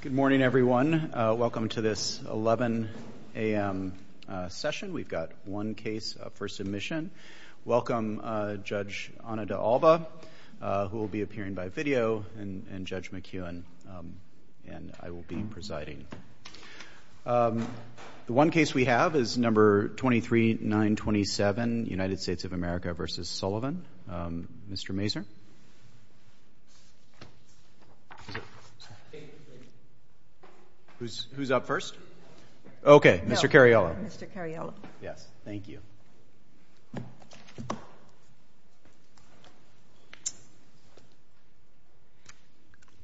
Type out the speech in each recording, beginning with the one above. Good morning, everyone. Welcome to this 11 a.m. session. We've got one case for submission. Welcome Judge Ana de Alba, who will be appearing by video, and Judge McEwen, and I will be presiding. The one case we have is No. 23927, United States of America v. Sullivan. Mr. Mazur. Who's up first? Okay, Mr. Cariello. Mr. Cariello. Yes. Thank you.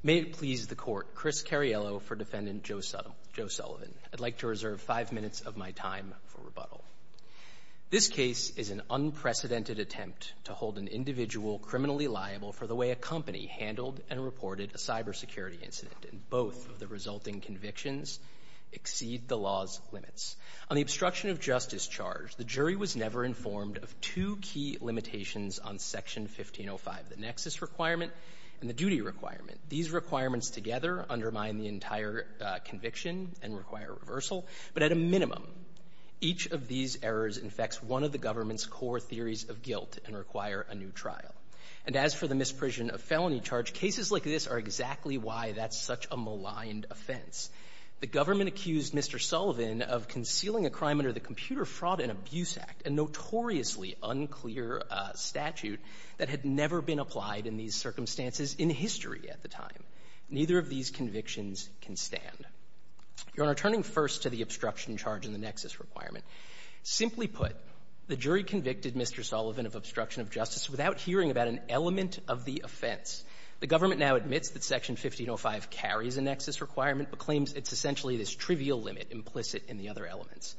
May it please the Court. Chris Cariello for Defendant Joe Sullivan. I'd like to reserve five minutes of my time for rebuttal. This case is an unprecedented attempt to hold an individual criminally liable for the way a company handled and reported a cybersecurity incident, and both of the resulting convictions exceed the law's limits. On the obstruction of justice charge, the jury was never informed of two key limitations on Section 1505, the nexus requirement and the duty requirement. These requirements together undermine the entire conviction and require reversal, but at a minimum each of these errors infects one of the government's core theories of guilt and require a new trial. And as for the misprision of felony charge, cases like this are exactly why that's such a maligned offense. The government accused Mr. Sullivan of concealing a crime under the Computer Fraud and Abuse Act, a notoriously unclear statute that had never been applied in these circumstances in history at the time. Neither of these convictions can stand. Your Honor, turning first to the obstruction charge and the nexus requirement, simply put, the jury convicted Mr. Sullivan of obstruction of justice without hearing about an element of the offense. The government now admits that Section 1505 carries a nexus requirement, but claims it's essentially this trivial limit implicit in the other elements.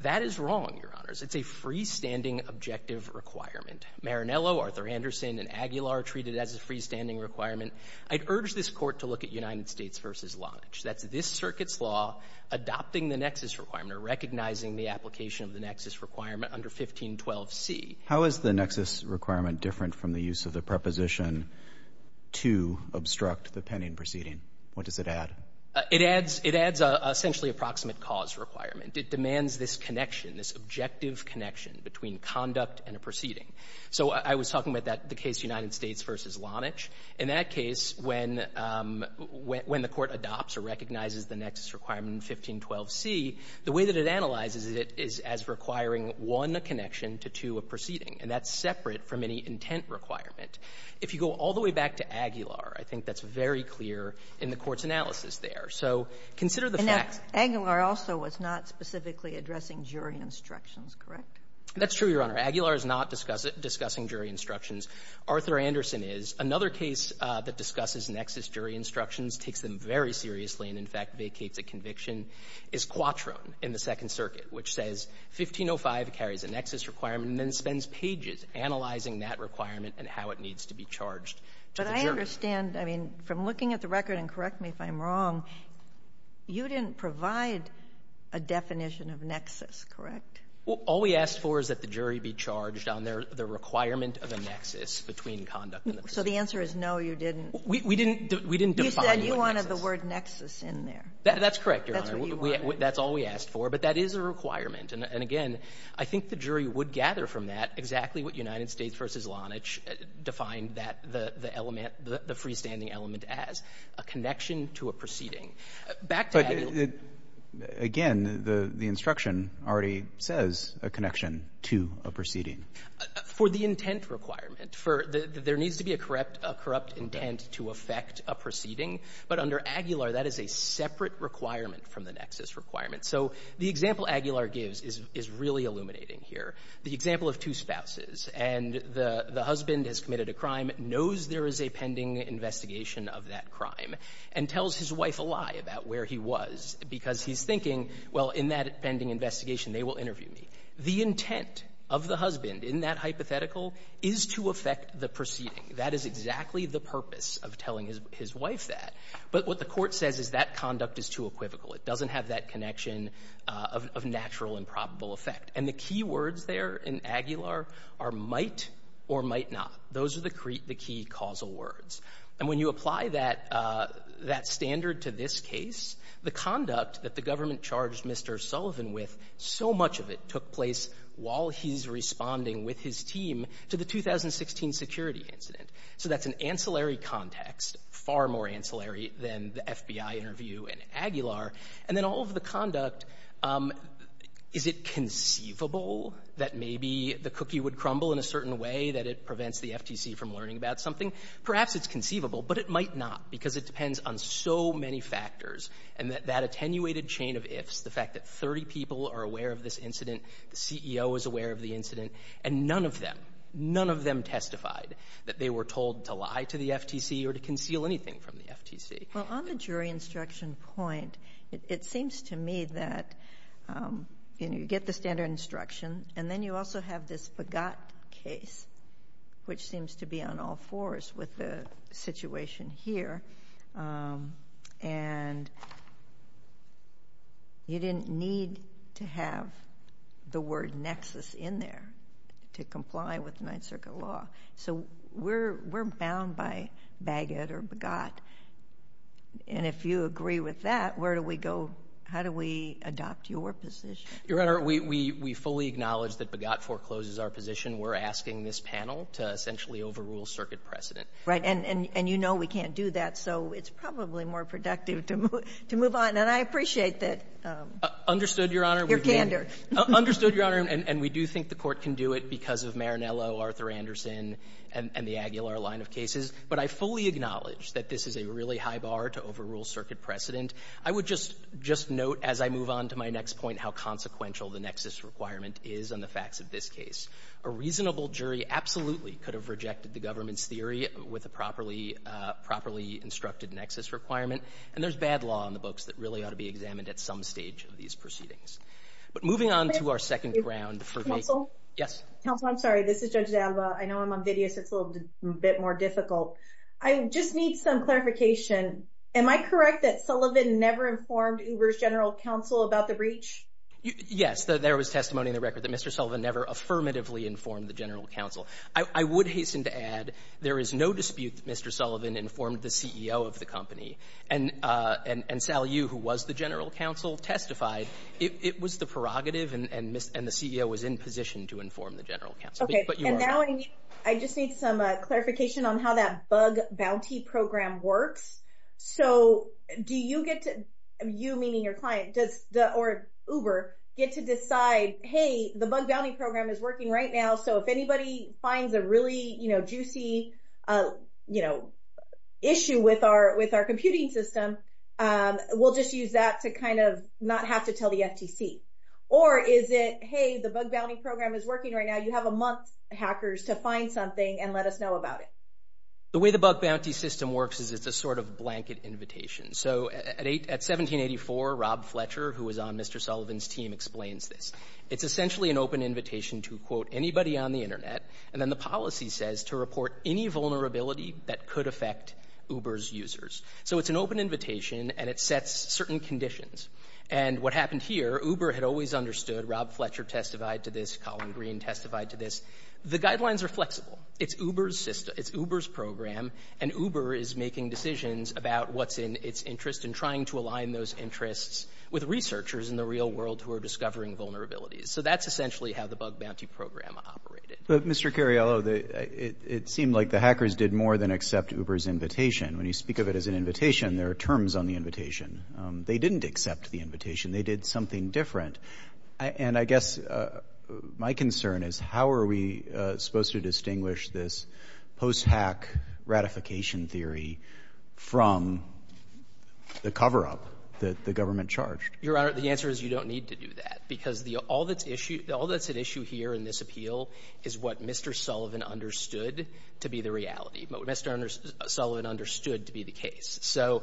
That is wrong, Your Honors. It's a freestanding objective requirement. Maranello, Arthur Anderson, and Aguilar treat it as a freestanding requirement. I'd urge this Court to look at United States v. Lodge. That's this circuit's law adopting the nexus requirement or recognizing the application of the nexus requirement under 1512c. How is the nexus requirement different from the use of the preposition to obstruct the pending proceeding? What does it add? It adds — it adds essentially a proximate cause requirement. It demands this connection, this objective connection between conduct and a proceeding. So I was talking about that — the case United States v. Lodge. In that case, when — when the Court adopts or recognizes the nexus requirement in 1512c, the way that it analyzes it is as requiring one connection to two of proceeding, and that's separate from any intent requirement. If you go all the way back to Aguilar, I think that's very clear in the Court's analysis there. So consider the facts. And now, Aguilar also was not specifically addressing jury instructions, correct? That's true, Your Honor. Aguilar is not discussing jury instructions. Arthur Anderson is. Another case that discusses nexus jury instructions, takes them very seriously, and in fact vacates a conviction, is Quattrone in the Second Circuit, which says 1505 carries a nexus requirement and then spends pages analyzing that requirement and how it needs to be charged to the jury. But I understand. I mean, from looking at the record, and correct me if I'm wrong, you didn't provide a definition of nexus, correct? All we asked for is that the jury be charged on their — the requirement of a nexus between conduct and the proceeding. So the answer is, no, you didn't. We didn't define the word nexus. You said you wanted the word nexus in there. That's correct, Your Honor. That's what you wanted. That's all we asked for. But that is a requirement. And again, I think the jury would gather from that exactly what United States v. Lonitch defined that the element — the freestanding element as, a connection to a proceeding. Back to Aguilar. But again, the instruction already says a connection to a proceeding. For the intent requirement, for the — there needs to be a corrupt — a corrupt intent to affect a proceeding. But under Aguilar, that is a separate requirement from the nexus requirement. So the example Aguilar gives is — is really illuminating here. The example of two spouses, and the — the husband has committed a crime, knows there is a pending investigation of that crime, and tells his wife a lie about where he was because he's thinking, well, in that pending investigation, they will The intent of the husband in that hypothetical is to affect the proceeding. That is exactly the purpose of telling his — his wife that. But what the Court says is that conduct is too equivocal. It doesn't have that connection of — of natural and probable effect. And the key words there in Aguilar are might or might not. Those are the — the key causal words. And when you apply that — that standard to this case, the conduct that the government charged Mr. Sullivan with, so much of it took place while he's responding with his team to the 2016 security incident. So that's an ancillary context, far more ancillary than the FBI interview in Aguilar. And then all of the conduct, is it conceivable that maybe the cookie would crumble in a certain way, that it prevents the FTC from learning about something? Perhaps it's conceivable, but it might not, because it depends on so many factors. And that attenuated chain of ifs, the fact that 30 people are aware of this incident, the CEO is aware of the incident, and none of them, none of them testified that they were told to lie to the FTC or to conceal anything from the FTC. Well, on the jury instruction point, it seems to me that, you know, you get the standard instruction, and then you also have this Fugat case, which seems to be on all fours with the situation here. And you didn't need to have the word nexus in there to comply with Ninth Circuit law. So we're bound by Bagot or Fugat. And if you agree with that, where do we go, how do we adopt your position? Your Honor, we fully acknowledge that Fugat forecloses our position. We're asking this panel to essentially overrule circuit precedent. Right, and you know we can't do that. So it's probably more productive to move on. And I appreciate that. Understood, Your Honor. Your candor. Understood, Your Honor. And we do think the Court can do it because of Marinello, Arthur Anderson, and the Aguilar line of cases. But I fully acknowledge that this is a really high bar to overrule circuit precedent. I would just note as I move on to my next point how consequential the nexus requirement is on the facts of this case. A reasonable jury absolutely could have rejected the government's theory with a properly instructed nexus requirement. And there's bad law on the books that really ought to be examined at some stage of these proceedings. But moving on to our second round for... Yes. Counsel, I'm sorry. This is Judge D'Alba. I know I'm on video so it's a little bit more difficult. I just need some clarification. Am I correct that Sullivan never informed Uber's General Counsel about the breach? Yes, there was testimony in the record that Mr. Sullivan never affirmatively informed the General Counsel. I would hasten to add there is no dispute that Mr. Sullivan informed the CEO of the company. And Sal Yu, who was the General Counsel, testified. It was the prerogative and the CEO was in position to inform the General Counsel. Okay. And now I just need some clarification on how that bug bounty program works. So do you get to, you meaning your client, or Uber, get to decide, hey, the bug bounty program is working right now. So if anybody finds a really juicy issue with our computing system, we'll just use that to kind of not have to tell the FTC. Or is it, hey, the bug bounty program is working right now. You have a month, hackers, to find something and let us know about it. The way the bug bounty system works is it's a sort of blanket invitation. So at 1784, Rob Fletcher, who was on Mr. Sullivan's team, explains this. It's essentially an open invitation to, quote, anybody on the internet. And then the policy says to report any vulnerability that could affect Uber's users. So it's an open invitation and it sets certain conditions. And what happened here, Uber had always understood, Rob Fletcher testified to this, Colin Green testified to this. The guidelines are flexible. It's Uber's system. It's Uber's program. And Uber is making decisions about what's in its interest and trying to align those interests with researchers in the real world who are discovering vulnerabilities. So that's essentially how the bug bounty program operated. But Mr. Cariello, it seemed like the hackers did more than accept Uber's invitation. When you speak of it as an invitation, there are terms on the invitation. They didn't accept the invitation. They did something different. And I guess my concern is, how are we supposed to distinguish this post-hack ratification theory from the cover-up that the government charged? Your Honor, the answer is you don't need to do that. Because all that's at issue here in this appeal is what Mr. Sullivan understood to be the reality, what Mr. Sullivan understood to be the case. So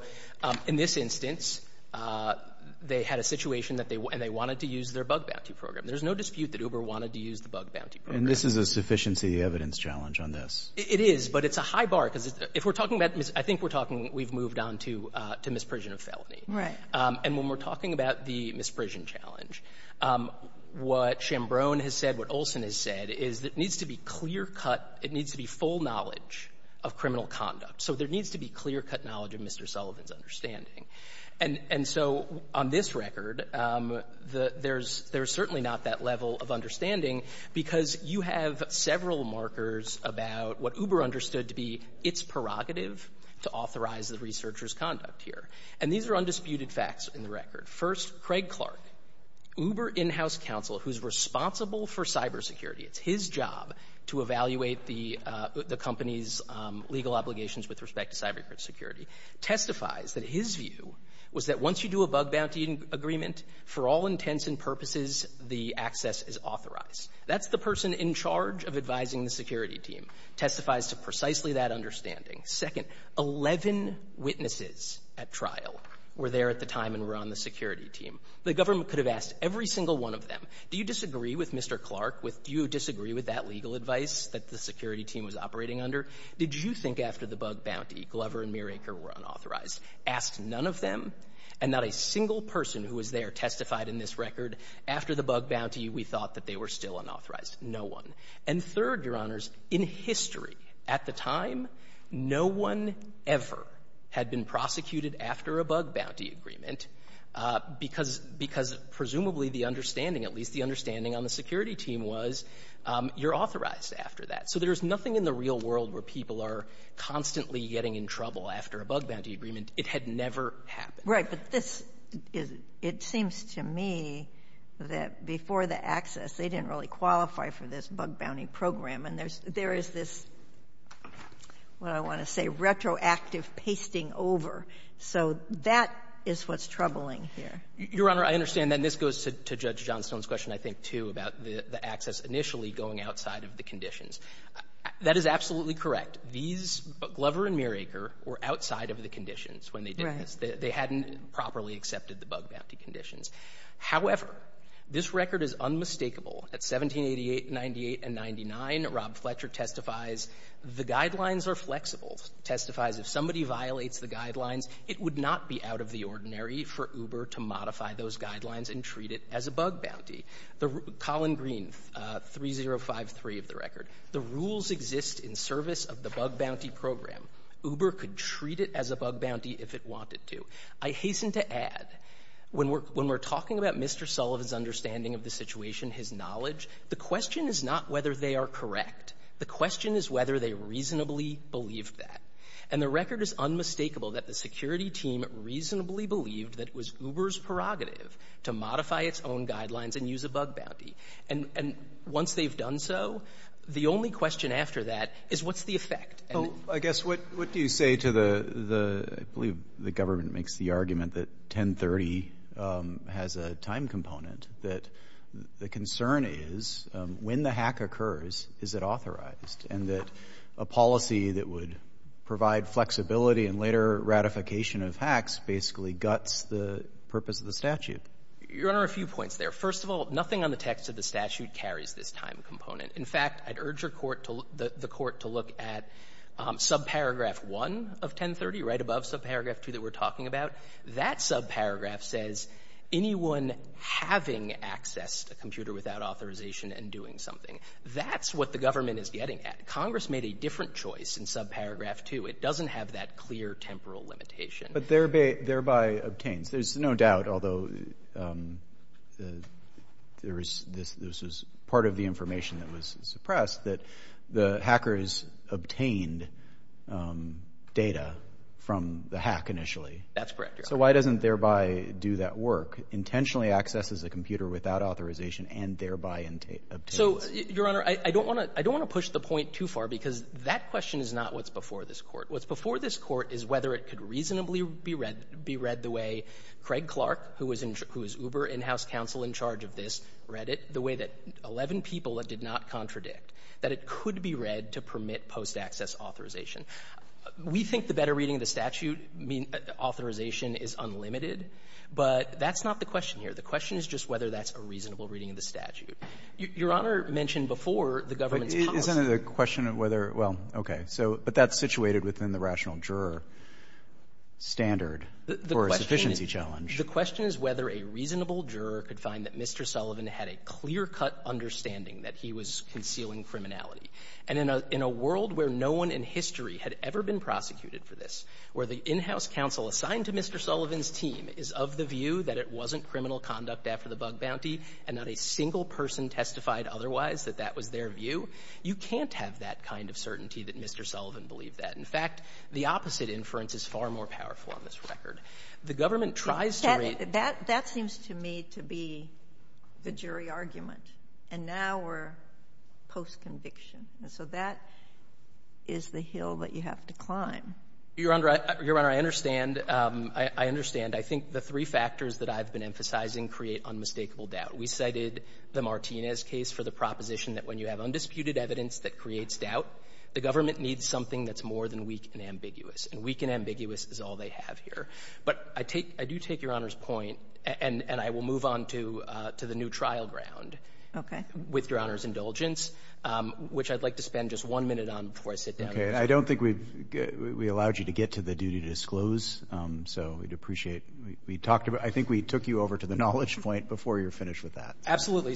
in this instance, they had a situation and they wanted to use their bug bounty program. There's no dispute that Uber wanted to use the bug bounty program. And this is a sufficiency of evidence challenge on this. It is. But it's a high bar. Because if we're talking about — I think we're talking — we've moved on to misprision of felony. Right. And when we're talking about the misprision challenge, what Chambrone has said, what Olson has said, is that it needs to be clear-cut. It needs to be full knowledge of criminal conduct. So there needs to be clear-cut knowledge of Mr. Sullivan's understanding. And so on this record, there's certainly not that level of understanding, because you have several markers about what Uber understood to be its prerogative to authorize the researcher's conduct here. And these are undisputed facts in the record. First, Craig Clark, Uber in-house counsel, who's responsible for cybersecurity — it's his job to evaluate the company's legal obligations with respect to cybersecurity — testifies that his view was that once you do a bug bounty agreement, for all intents and purposes, the access is authorized. That's the person in charge of advising the security team, testifies to precisely that understanding. Second, 11 witnesses at trial were there at the time and were on the security team. The government could have asked every single one of them, do you disagree with Mr. Clark? Do you disagree with that legal advice that the security team was operating under? Did you think after the bug bounty, Glover and Muiracre were unauthorized? Asked none of them, and not a single person who was there testified in this record, after the bug bounty, we thought that they were still unauthorized. No one. And third, Your Honors, in history, at the time, no one ever had been prosecuted after a bug bounty agreement because — because presumably the understanding, at least the understanding on the security team was, you're authorized after that. So there's nothing in the real world where people are constantly getting in trouble after a bug bounty agreement. It had never happened. Right. But this is — it seems to me that before the access, they didn't really qualify for this bug bounty program. And there's — there is this, what I want to say, retroactive pasting over. So that is what's troubling here. Your Honor, I understand. Then this goes to Judge Johnstone's question, I think, too, about the access initially going outside of the conditions. That is absolutely correct. These — Glover and Muiracre were outside of the conditions when they did this. They hadn't properly accepted the bug bounty conditions. However, this record is unmistakable. At 1788, 98, and 99, Rob Fletcher testifies the guidelines are flexible, testifies if somebody violates the guidelines, it would not be out of the ordinary for Uber to modify those guidelines and treat it as a bug bounty. The — Colin Green, 3053 of the record. The rules exist in service of the bug bounty program. Uber could treat it as a bug bounty if it wanted to. I hasten to add, when we're — when we're talking about Mr. Sullivan's understanding of the situation, his knowledge, the question is not whether they are correct. The question is whether they reasonably believed that. And the record is unmistakable that the security team reasonably believed that it was Uber's prerogative to modify its own guidelines and use a bug bounty. And once they've done so, the only question after that is what's the effect? And — Roberts, I guess, what — what do you say to the — the — I believe the government makes the argument that 1030 has a time component, that the concern is, when the hack occurs, is it authorized, and that a policy that would provide flexibility and later ratification of hacks basically guts the purpose of the statute? Your Honor, a few points there. First of all, nothing on the text of the statute carries this time component. In fact, I'd urge your court to — the court to look at subparagraph 1 of 1030, right above subparagraph 2 that we're talking about. That subparagraph says anyone having access to a computer without authorization and doing something. That's what the government is getting at. Congress made a different choice in subparagraph 2. It doesn't have that clear temporal limitation. But thereby — thereby obtains. There's no doubt, although there is — this is part of the information that was suppressed, that the hackers obtained data from the hack initially. That's correct, Your Honor. So why doesn't thereby do that work, intentionally accesses a computer without authorization and thereby obtains? So, Your Honor, I don't want to — I don't want to push the point too far, because that question is not what's before this court. What's before this court is whether it could reasonably be read — be read the way Craig Clark, who was Uber in-house counsel in charge of this, read it, the way that 11 people it did not contradict, that it could be read to permit post-access authorization. We think the better reading of the statute means authorization is unlimited, but that's not the question here. The question is just whether that's a reasonable reading of the statute. Your Honor mentioned before the government's policy — But isn't it a question of whether — well, okay. So — but that's situated within the rational juror standard for a sufficiency challenge. The question is whether a reasonable juror could find that Mr. Sullivan had a clear-cut understanding that he was concealing criminality. And in a — in a world where no one in history had ever been prosecuted for this, where the in-house counsel assigned to Mr. Sullivan's team is of the view that it wasn't criminal conduct after the bug bounty and not a single person testified otherwise that that was their view, you can't have that kind of certainty that Mr. Sullivan believed that. In fact, the opposite inference is far more powerful on this record. The government tries to read — That — that seems to me to be the jury argument. And now we're post-conviction. And so that is the hill that you have to climb. Your Honor, I — Your Honor, I understand — I understand. I think the three factors that I've been emphasizing create unmistakable doubt. We cited the Martinez case for the proposition that when you have undisputed evidence that creates doubt, the government needs something that's more than weak and ambiguous. And weak and ambiguous is all they have here. But I take — I do take Your Honor's point, and — and I will move on to — to the new trial ground —— with Your Honor's indulgence, which I'd like to spend just one minute on before I sit down. Okay. I don't think we've — we allowed you to get to the duty to disclose, so we'd appreciate — we talked about — I think we took you over to the knowledge point before you were finished with that. So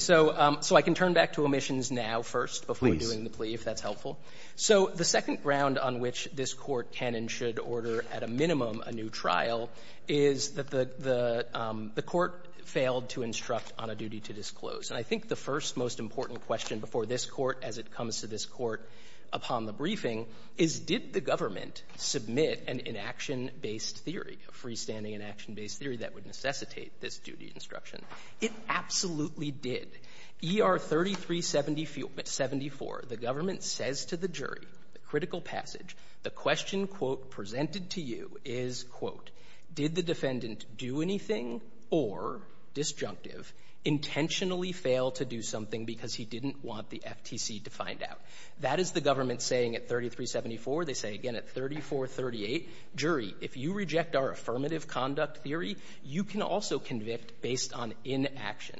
— so I can turn back to omissions now first before doing the plea, if that's helpful. So the second ground on which this Court can and should order, at a minimum, a new trial is that the — the — the Court failed to instruct on a duty to disclose. And I think the first, most important question before this Court, as it comes to this Court upon the briefing, is did the government submit an inaction-based theory, a freestanding inaction-based theory that would necessitate this duty instruction? It absolutely did. E.R. 3374, the government says to the jury, the critical passage, the question, quote, presented to you is, quote, did the defendant do anything or, disjunctive, intentionally fail to do something because he didn't want the FTC to find out? That is the government saying at 3374. They say again at 3438, jury, if you reject our affirmative conduct theory, you can also convict based on inaction.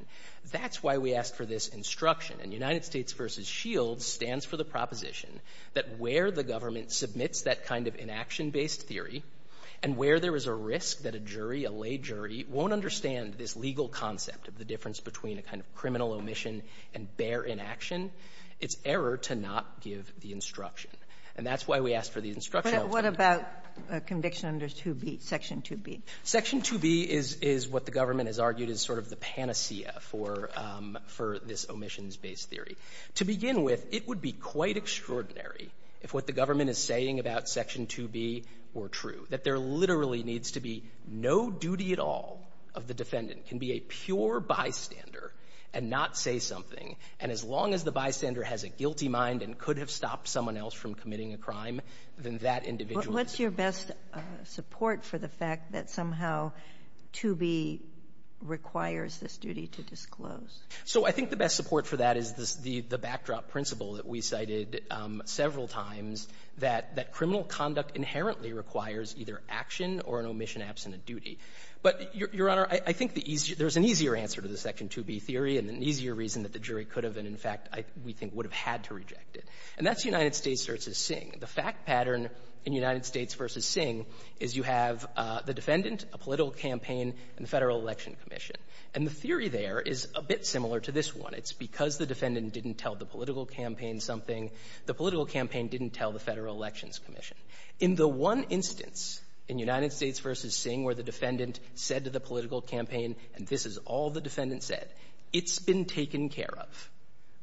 That's why we asked for this instruction. And United States v. Shields stands for the proposition that where the government submits that kind of inaction-based theory and where there is a risk that a jury, a lay jury, won't understand this legal concept of the difference between a kind of criminal omission and bare inaction, it's error to not give the instruction. And that's why we asked for the instruction. Kagan. But what about conviction under 2B, Section 2B? Section 2B is what the government has argued is sort of the panacea for this omissions-based theory. To begin with, it would be quite extraordinary if what the government is saying about Section 2B were true, that there literally needs to be no duty at all of the defendant, can be a pure bystander and not say something, and as long as the bystander has a guilty mind and could have stopped someone else from committing a crime, then that individual is guilty. And that's the best support for the fact that somehow 2B requires this duty to disclose. So I think the best support for that is the backdrop principle that we cited several times, that criminal conduct inherently requires either action or an omission-absent duty. But, Your Honor, I think there's an easier answer to the Section 2B theory and an easier reason that the jury could have and, in fact, we think would have had to reject it. And that's United States v. Singh. The fact pattern in United States v. Singh is you have the defendant, a political campaign, and the Federal Election Commission. And the theory there is a bit similar to this one. It's because the defendant didn't tell the political campaign something, the political campaign didn't tell the Federal Elections Commission. In the one instance in United States v. Singh where the defendant said to the political campaign, and this is all the defendant said, it's been taken care of,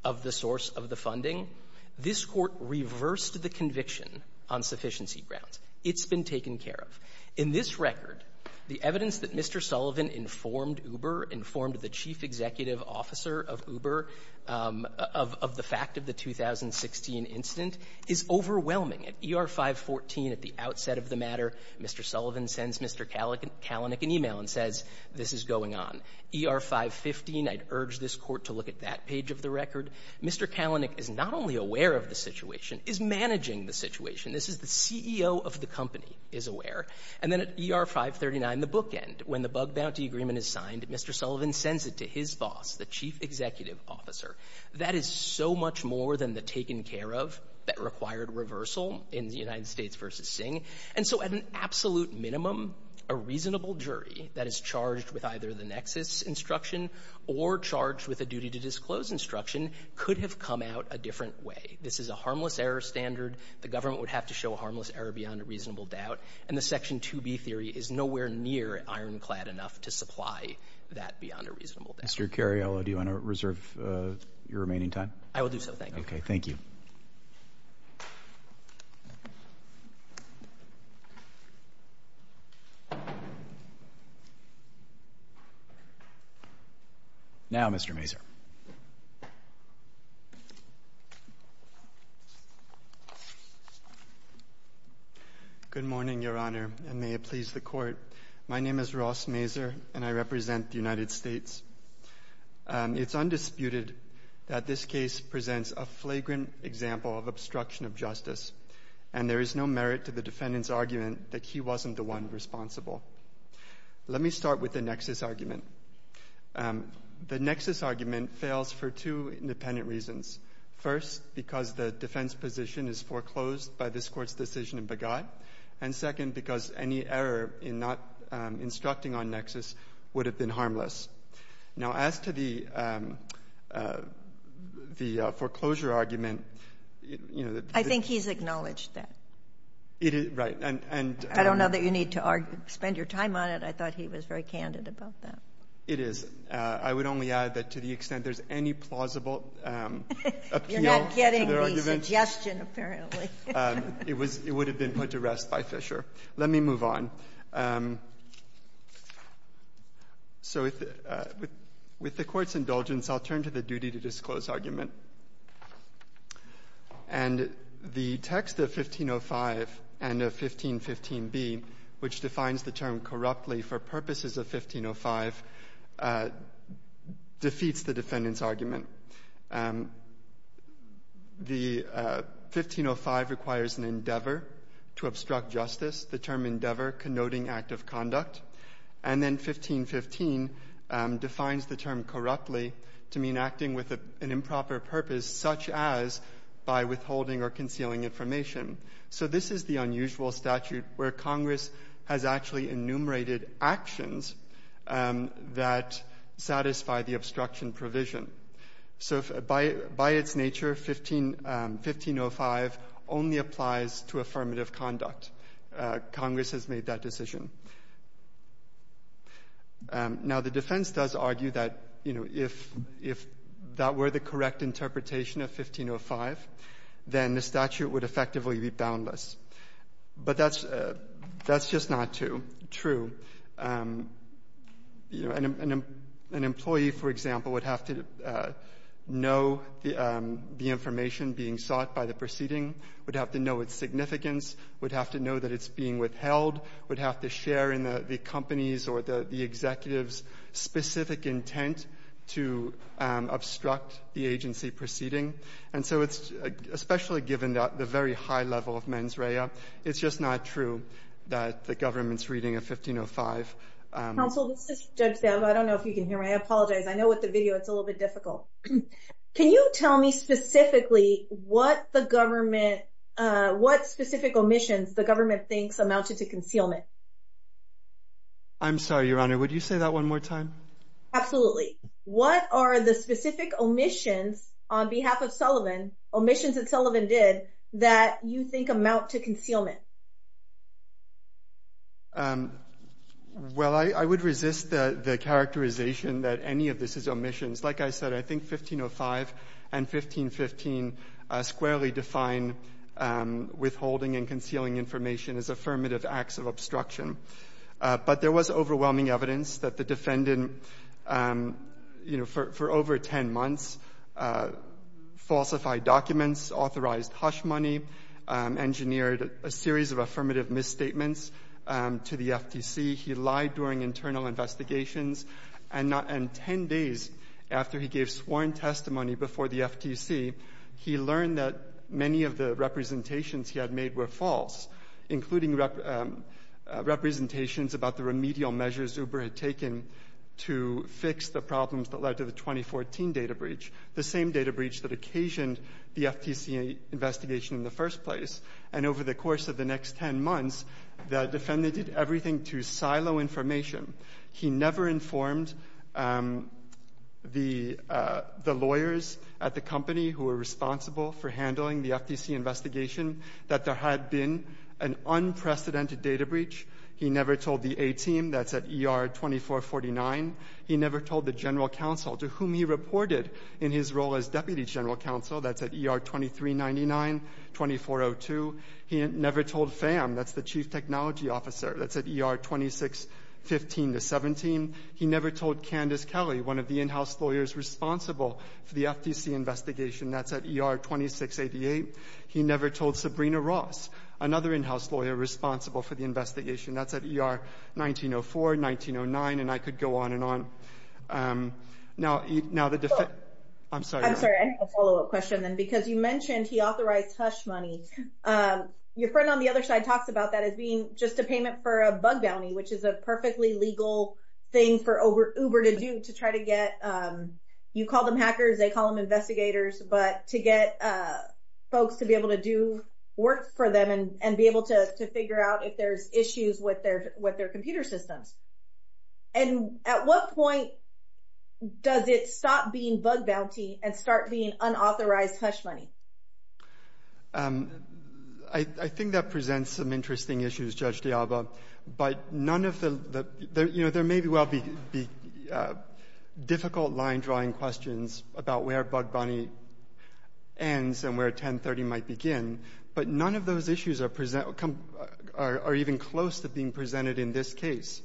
of the source of the funding, this is this Court reversed the conviction on sufficiency grounds. It's been taken care of. In this record, the evidence that Mr. Sullivan informed Uber, informed the chief executive officer of Uber of the fact of the 2016 incident is overwhelming. At ER-514, at the outset of the matter, Mr. Sullivan sends Mr. Kalanick an e-mail and says, this is going on. ER-515, I'd urge this Court to look at that page of the record. Mr. Kalanick is not only aware of the situation, is managing the situation. This is the CEO of the company is aware. And then at ER-539, the bookend, when the bug bounty agreement is signed, Mr. Sullivan sends it to his boss, the chief executive officer. That is so much more than the taken care of that required reversal in United States v. Singh. And so at an absolute minimum, a reasonable jury that is charged with either the nexus instruction or charged with a duty to disclose instruction could have come out a different way. This is a harmless error standard. The government would have to show a harmless error beyond a reasonable doubt. And the Section 2B theory is nowhere near ironclad enough to supply that beyond a reasonable doubt. Mr. Cariello, do you want to reserve your remaining time? I will do so. Thank you. Okay. Thank you. Now, Mr. Mazur. Good morning, Your Honor, and may it please the Court. My name is Ross Mazur, and I represent the United States. It's undisputed that this case presents a flagrant example of obstruction of justice, and there is no merit to the defendant's argument that he wasn't the one responsible. Let me start with the nexus argument. The nexus argument fails for two independent reasons, first, because the defense position is foreclosed by this Court's decision in Begat, and second, because any error in not instructing on nexus would have been harmless. Now, as to the foreclosure argument, you know, the — I think he's acknowledged that. It is — right. And — I don't know that you need to spend your time on it. I thought he was very candid about that. It is. I would only add that to the extent there's any plausible appeal to the argument You're not getting the suggestion, apparently. It was — it would have been put to rest by Fisher. Let me move on. So with the Court's indulgence, I'll turn to the duty-to-disclose argument. And the text of 1505 and of 1515b, which defines the term corruptly for purposes of 1505, defeats the defendant's So 1505 requires an endeavor to obstruct justice, the term endeavor connoting act of conduct. And then 1515 defines the term corruptly to mean acting with an improper purpose, such as by withholding or concealing information. So this is the unusual statute where Congress has actually enumerated actions that satisfy the obstruction provision. So by its nature, 1505 only applies to affirmative conduct. Congress has made that decision. Now, the defense does argue that, you know, if that were the correct interpretation of 1505, then the statute would effectively be boundless. But that's just not true. You know, an employee, for example, would have to know the information being sought by the proceeding, would have to know its significance, would have to know that it's being withheld, would have to share in the company's or the executive's specific intent to obstruct the agency proceeding. And so it's — especially given the very high level of mens rea, it's just not true that the government's reading of 1505 — Counsel, let's just judge them. I don't know if you can hear me. I apologize. I know with the video it's a little bit difficult. Can you tell me specifically what the government — what specific omissions the government thinks amounted to concealment? I'm sorry, Your Honor. Would you say that one more time? Absolutely. What are the specific omissions on behalf of Sullivan, omissions that Sullivan did that you think amount to concealment? Well, I would resist the characterization that any of this is omissions. Like I said, I think 1505 and 1515 squarely define withholding and concealing information as affirmative acts of obstruction. But there was overwhelming evidence that the defendant, you know, for over 10 months falsified documents, authorized hush money, engineered a series of affirmative misstatements to the FTC. He lied during internal investigations, and 10 days after he gave sworn testimony before the FTC, he learned that many of the representations he had made were false, including representations about the remedial measures Uber had taken to fix the problems that led to the 2014 data breach, the same data breach that occasioned the FTC investigation in the first place. And over the course of the next 10 months, the defendant did everything to silo information. He never informed the lawyers at the company who were responsible for handling the FTC investigation that there had been an unprecedented data breach. He never told the A-team that's at ER-2449. He never told the general counsel, to whom he reported in his role as deputy general counsel, that's at ER-2399-2402. He never told Pham, that's the chief technology officer, that's at ER-2615-17. He never told Candace Kelly, one of the in-house lawyers responsible for the FTC investigation, that's at ER-2688. He never told Sabrina Ross, another in-house lawyer responsible for the investigation, that's at ER-1904-1909. And I could go on and on. Now, the defendant... I'm sorry. I'm sorry. I have a follow-up question then, because you mentioned he authorized hush money. Your friend on the other side talks about that as being just a payment for a bug bounty, which is a perfectly legal thing for Uber to do to try to get... You call them hackers, they call them investigators, but to get folks to be able to do work for them and be able to figure out if there's issues with their computer systems. And at what point does it stop being bug bounty and start being unauthorized hush money? I think that presents some interesting issues, Judge DiAlba. But none of the... There may well be difficult line-drawing questions about where bug bounty ends and where 1030 might begin, but none of those issues are even close to being presented in this case.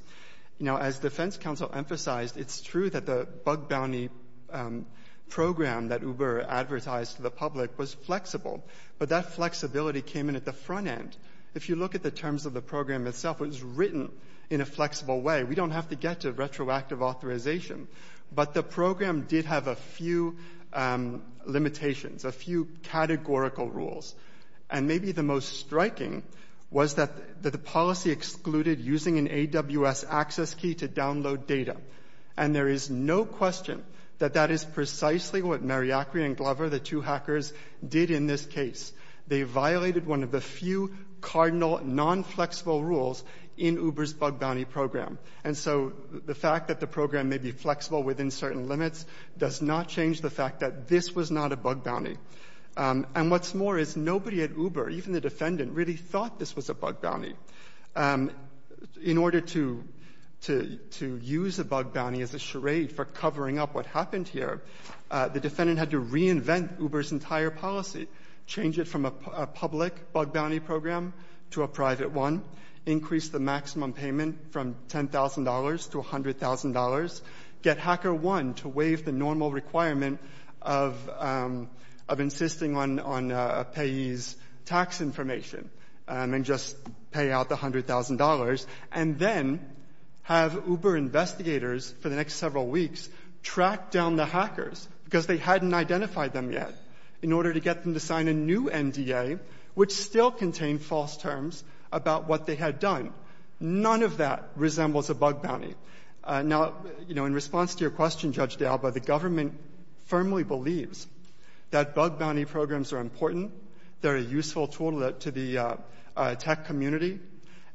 Now, as defense counsel emphasized, it's true that the bug bounty program that Uber advertised to the public was flexible, but that flexibility came in at the front end. If you look at the terms of the program itself, it was written in a flexible way. We don't have to get to retroactive authorization, but the program did have a few limitations, a few categorical rules. And maybe the most striking was that the policy excluded using an AWS access key to download data. And there is no question that that is precisely what Mariachri and Glover, the two hackers, did in this case. They violated one of the few cardinal non-flexible rules in Uber's bug bounty program. And so the fact that the program may be flexible within certain limits does not change the fact that this was not a bug bounty. And what's more is nobody at Uber, even the defendant, really thought this was a bug bounty. In order to use a bug bounty as a charade for covering up what happened here, the defendant had to reinvent Uber's entire policy, change it from a public bug bounty program to a private one, increase the maximum payment from $10,000 to $100,000, get rid of insisting on a payee's tax information and just pay out the $100,000, and then have Uber investigators for the next several weeks track down the hackers because they hadn't identified them yet in order to get them to sign a new NDA which still contained false terms about what they had done. None of that resembles a bug bounty. Now, you know, in response to your question, Judge D'Alba, the government firmly believes that bug bounty programs are important. They're a useful tool to the tech community.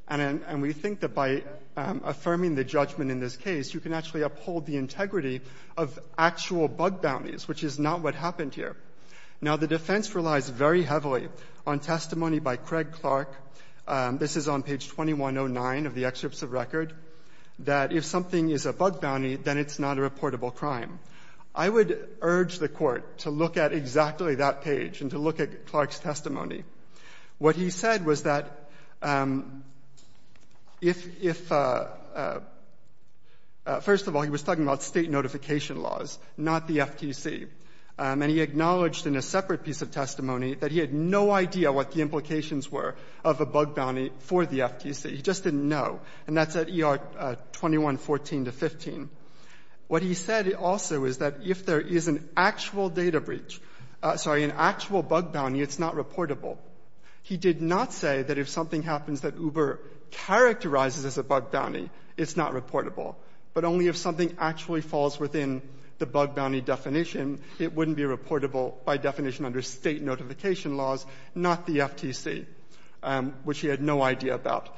And we think that by affirming the judgment in this case, you can actually uphold the integrity of actual bug bounties, which is not what happened here. Now, the defense relies very heavily on testimony by Craig Clark. This is on page 2109 of the excerpts of record, that if something is a bug bounty, then it's not a reportable crime. I would urge the court to look at exactly that page and to look at Clark's testimony. What he said was that if — first of all, he was talking about state notification laws, not the FTC. And he acknowledged in a separate piece of testimony that he had no idea what the definition of a bug bounty for the FTC. He just didn't know. And that's at ER 2114-15. What he said also is that if there is an actual data breach — sorry, an actual bug bounty, it's not reportable. He did not say that if something happens that Uber characterizes as a bug bounty, it's not reportable. But only if something actually falls within the bug bounty definition, it wouldn't be reportable by definition under state notification laws, not the FTC. Which he had no idea about.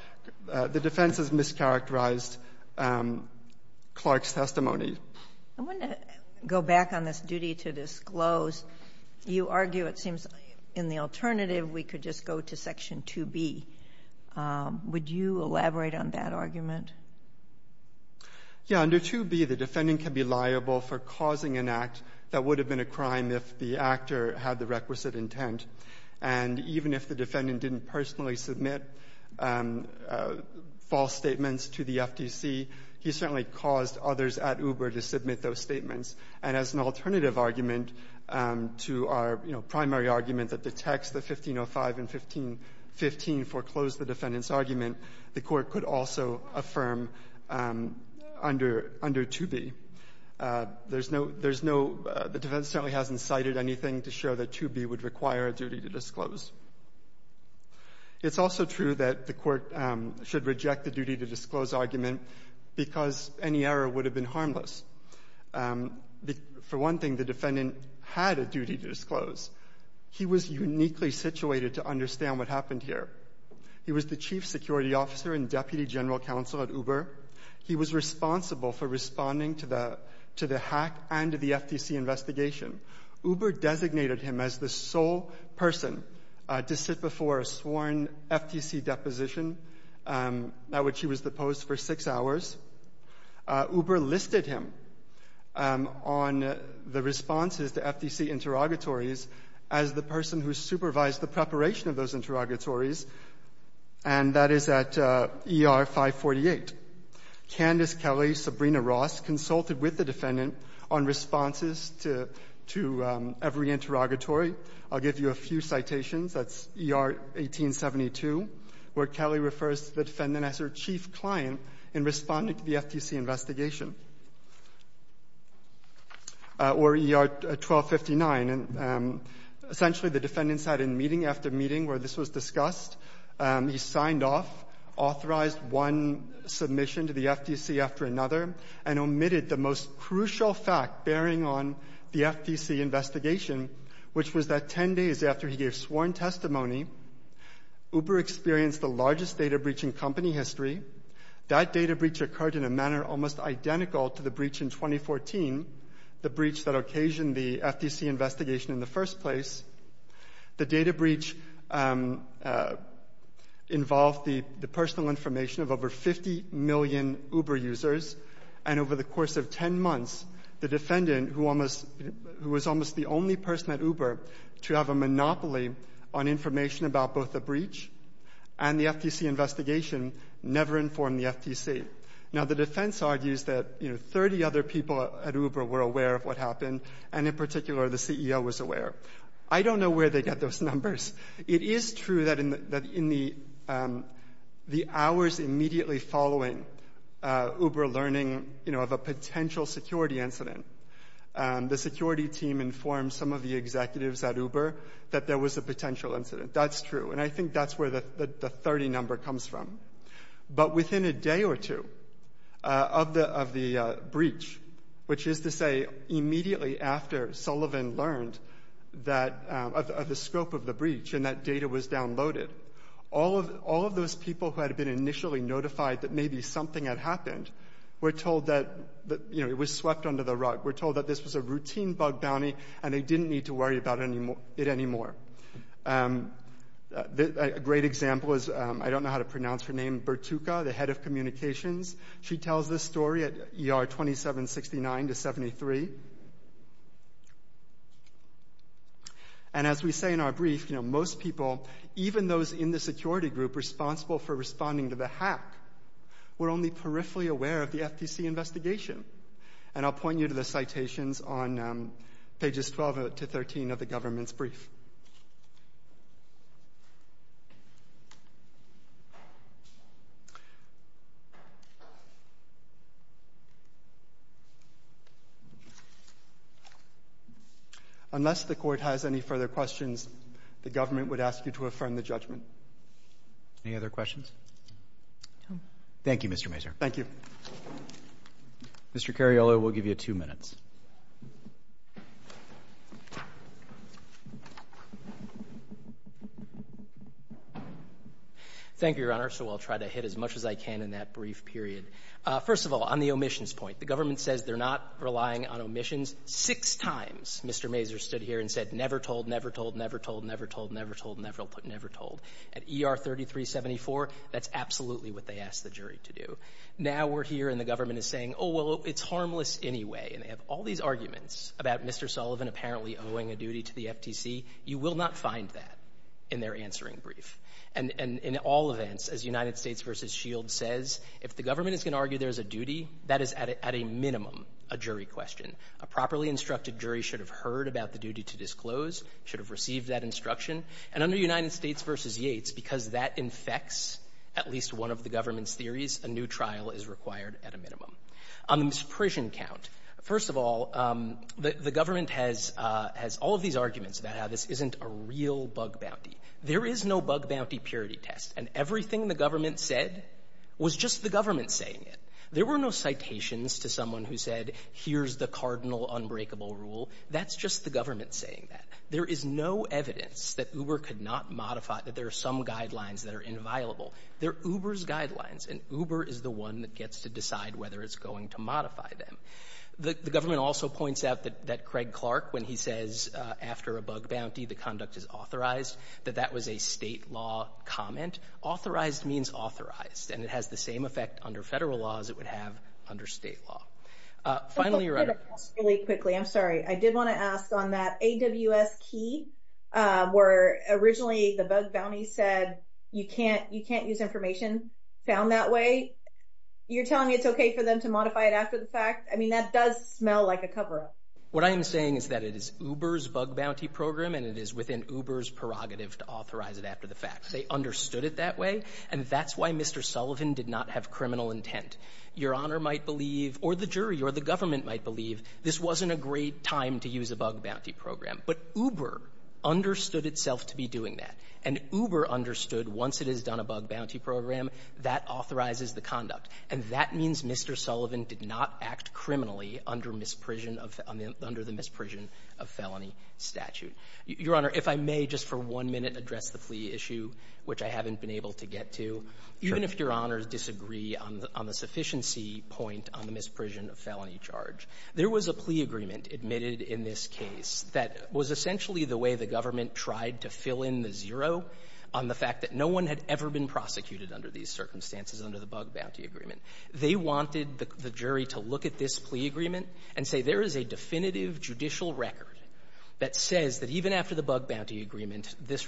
The defense has mischaracterized Clark's testimony. I want to go back on this duty to disclose. You argue it seems in the alternative we could just go to Section 2B. Would you elaborate on that argument? Yeah. Under 2B, the defendant can be liable for causing an act that would have been a crime if the actor had the requisite intent. And even if the defendant didn't personally submit false statements to the FTC, he certainly caused others at Uber to submit those statements. And as an alternative argument to our, you know, primary argument that the text, the 1505 and 1515, foreclosed the defendant's argument, the Court could also affirm under — under 2B. There's no — there's no — the defense certainly hasn't cited anything to show that 2B would require a duty to disclose. It's also true that the Court should reject the duty to disclose argument because any error would have been harmless. For one thing, the defendant had a duty to disclose. He was uniquely situated to understand what happened here. He was the chief security officer and deputy general counsel at Uber. He was responsible for responding to the — to the hack and to the FTC investigation. Uber designated him as the sole person to sit before a sworn FTC deposition at which he was deposed for six hours. Uber listed him on the responses to FTC interrogatories as the person who supervised the preparation of those interrogatories, and that is at ER 548. Candace Kelly, Sabrina Ross, consulted with the defendant on responses to — to every interrogatory. I'll give you a few citations. That's ER 1872, where Kelly refers to the defendant as her chief client in responding to the FTC investigation, or ER 1259. And essentially, the defendant sat in meeting after meeting where this was discussed. He signed off, authorized one submission to the FTC after another, and omitted the most crucial fact bearing on the FTC investigation, which was that 10 days after he gave sworn testimony, Uber experienced the largest data breach in company history. That data breach occurred in a manner almost identical to the breach in 2014, the breach that occasioned the FTC investigation in the first place. The data breach involved the — the personal information of over 50 million Uber users, and over the course of 10 months, the defendant, who almost — who was almost the only person at Uber to have a monopoly on information about both the breach and the FTC investigation, never informed the FTC. Now, the defense argues that, you know, 30 other people at Uber were aware of what happened, and in particular, the CEO was aware. I don't know where they got those numbers. It is true that in the — that in the — the hours immediately following Uber learning, you know, of a potential security incident, the security team informed some of the executives at Uber that there was a potential incident. That's true. And I think that's where the 30 number comes from. But within a day or two of the — of the breach, which is to say immediately after Sullivan learned that — of the scope of the breach and that data was downloaded, all of — all of those people who had been initially notified that maybe something had happened were told that, you know, it was swept under the rug. We're told that this was a routine bug bounty, and they didn't need to worry about it anymore. A great example is — I don't know how to pronounce her name — Bertuca, the head of communications. She tells this story at ER 2769 to 73. And as we say in our brief, you know, most people, even those in the security group responsible for responding to the hack, were only peripherally aware of the FTC investigation. And I'll point you to the citations on pages 12 to 13 of the government's brief. Unless the court has any further questions, the government would ask you to affirm the judgment. Any other questions? No. Thank you, Mr. Mazur. Thank you. Mr. Cariola, we'll give you two minutes. Thank you, Your Honor, so I'll try to hit as much as I can in that brief period. First of all, on the omissions point, the government says they're not relying on Six times Mr. Mazur stood here and said, never told, never told, never told, never told, never told, never told. At ER 3374, that's absolutely what they asked the jury to do. Now we're here and the government is saying, oh, well, it's harmless anyway. And they have all these arguments about Mr. Sullivan apparently owing a duty to the FTC. You will not find that in their answering brief. And in all events, as United States v. Shield says, if the government is going to argue there's a duty, that is at a minimum a jury question. A properly instructed jury should have heard about the duty to disclose, should have received that instruction. And under United States v. Yates, because that infects at least one of the government's theories, a new trial is required at a minimum. On the misprision count, first of all, the government has all of these arguments about how this isn't a real bug bounty. There is no bug bounty purity test. And everything the government said was just the government saying it. There were no citations to someone who said, here's the cardinal unbreakable rule. That's just the government saying that. There is no evidence that Uber could not modify, that there are some guidelines that are inviolable. They're Uber's guidelines. And Uber is the one that gets to decide whether it's going to modify them. The government also points out that Craig Clark, when he says after a bug bounty, the conduct is authorized, that that was a state law comment. Authorized means authorized. And it has the same effect under federal law as it would have under state law. Finally, your Honor. I did want to ask really quickly. I'm sorry. I did want to ask on that AWS key, where originally the bug bounty said you can't use information found that way. You're telling me it's okay for them to modify it after the fact? I mean, that does smell like a cover-up. What I am saying is that it is Uber's bug bounty program. And it is within Uber's prerogative to authorize it after the fact. They understood it that way. And that's why Mr. Sullivan did not have criminal intent. Your Honor might believe, or the jury, or the government might believe, this wasn't a great time to use a bug bounty program. But Uber understood itself to be doing that. And Uber understood once it has done a bug bounty program, that authorizes the conduct. And that means Mr. Sullivan did not act criminally under the misprision of felony statute. Your Honor, if I may just for one minute address the plea issue, which I haven't been able to get to. Sure. Even if your Honors disagree on the sufficiency point on the misprision of felony charge, there was a plea agreement admitted in this case that was essentially the way the government tried to fill in the zero on the fact that no one had ever been prosecuted under these circumstances under the bug bounty agreement. They wanted the jury to look at this plea agreement and say there is a definitive judicial record that says that even after the bug bounty agreement, this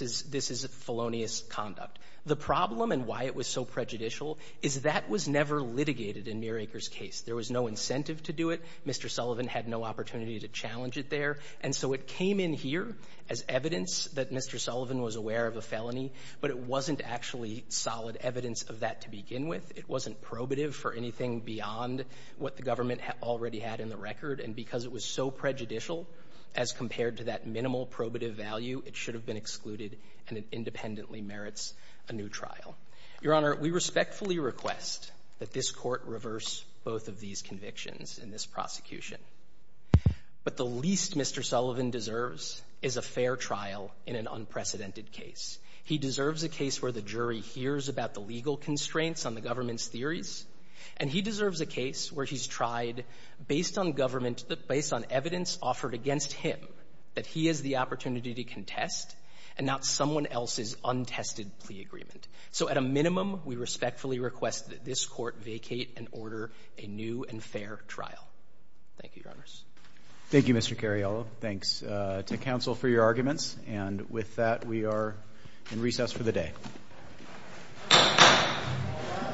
is felonious conduct. The problem and why it was so prejudicial is that was never litigated in Muir Acres' case. There was no incentive to do it. Mr. Sullivan had no opportunity to challenge it there. And so it came in here as evidence that Mr. Sullivan was aware of a felony, but it wasn't actually solid evidence of that to begin with. It wasn't probative for anything beyond what the government already had in the record. And because it was so prejudicial as compared to that minimal probative value, it should have been excluded, and it independently merits a new trial. Your Honor, we respectfully request that this Court reverse both of these convictions in this prosecution. What the least Mr. Sullivan deserves is a fair trial in an unprecedented case. He deserves a case where the jury hears about the legal constraints on the government's theories, and he deserves a case where he's tried, based on evidence offered against him, that he has the opportunity to contest and not someone else's untested plea agreement. So at a minimum, we respectfully request that this Court vacate and order a new and fair trial. Thank you, Your Honors. Thank you, Mr. Cariello. Thanks to counsel for your arguments. And with that, we are in recess for the day.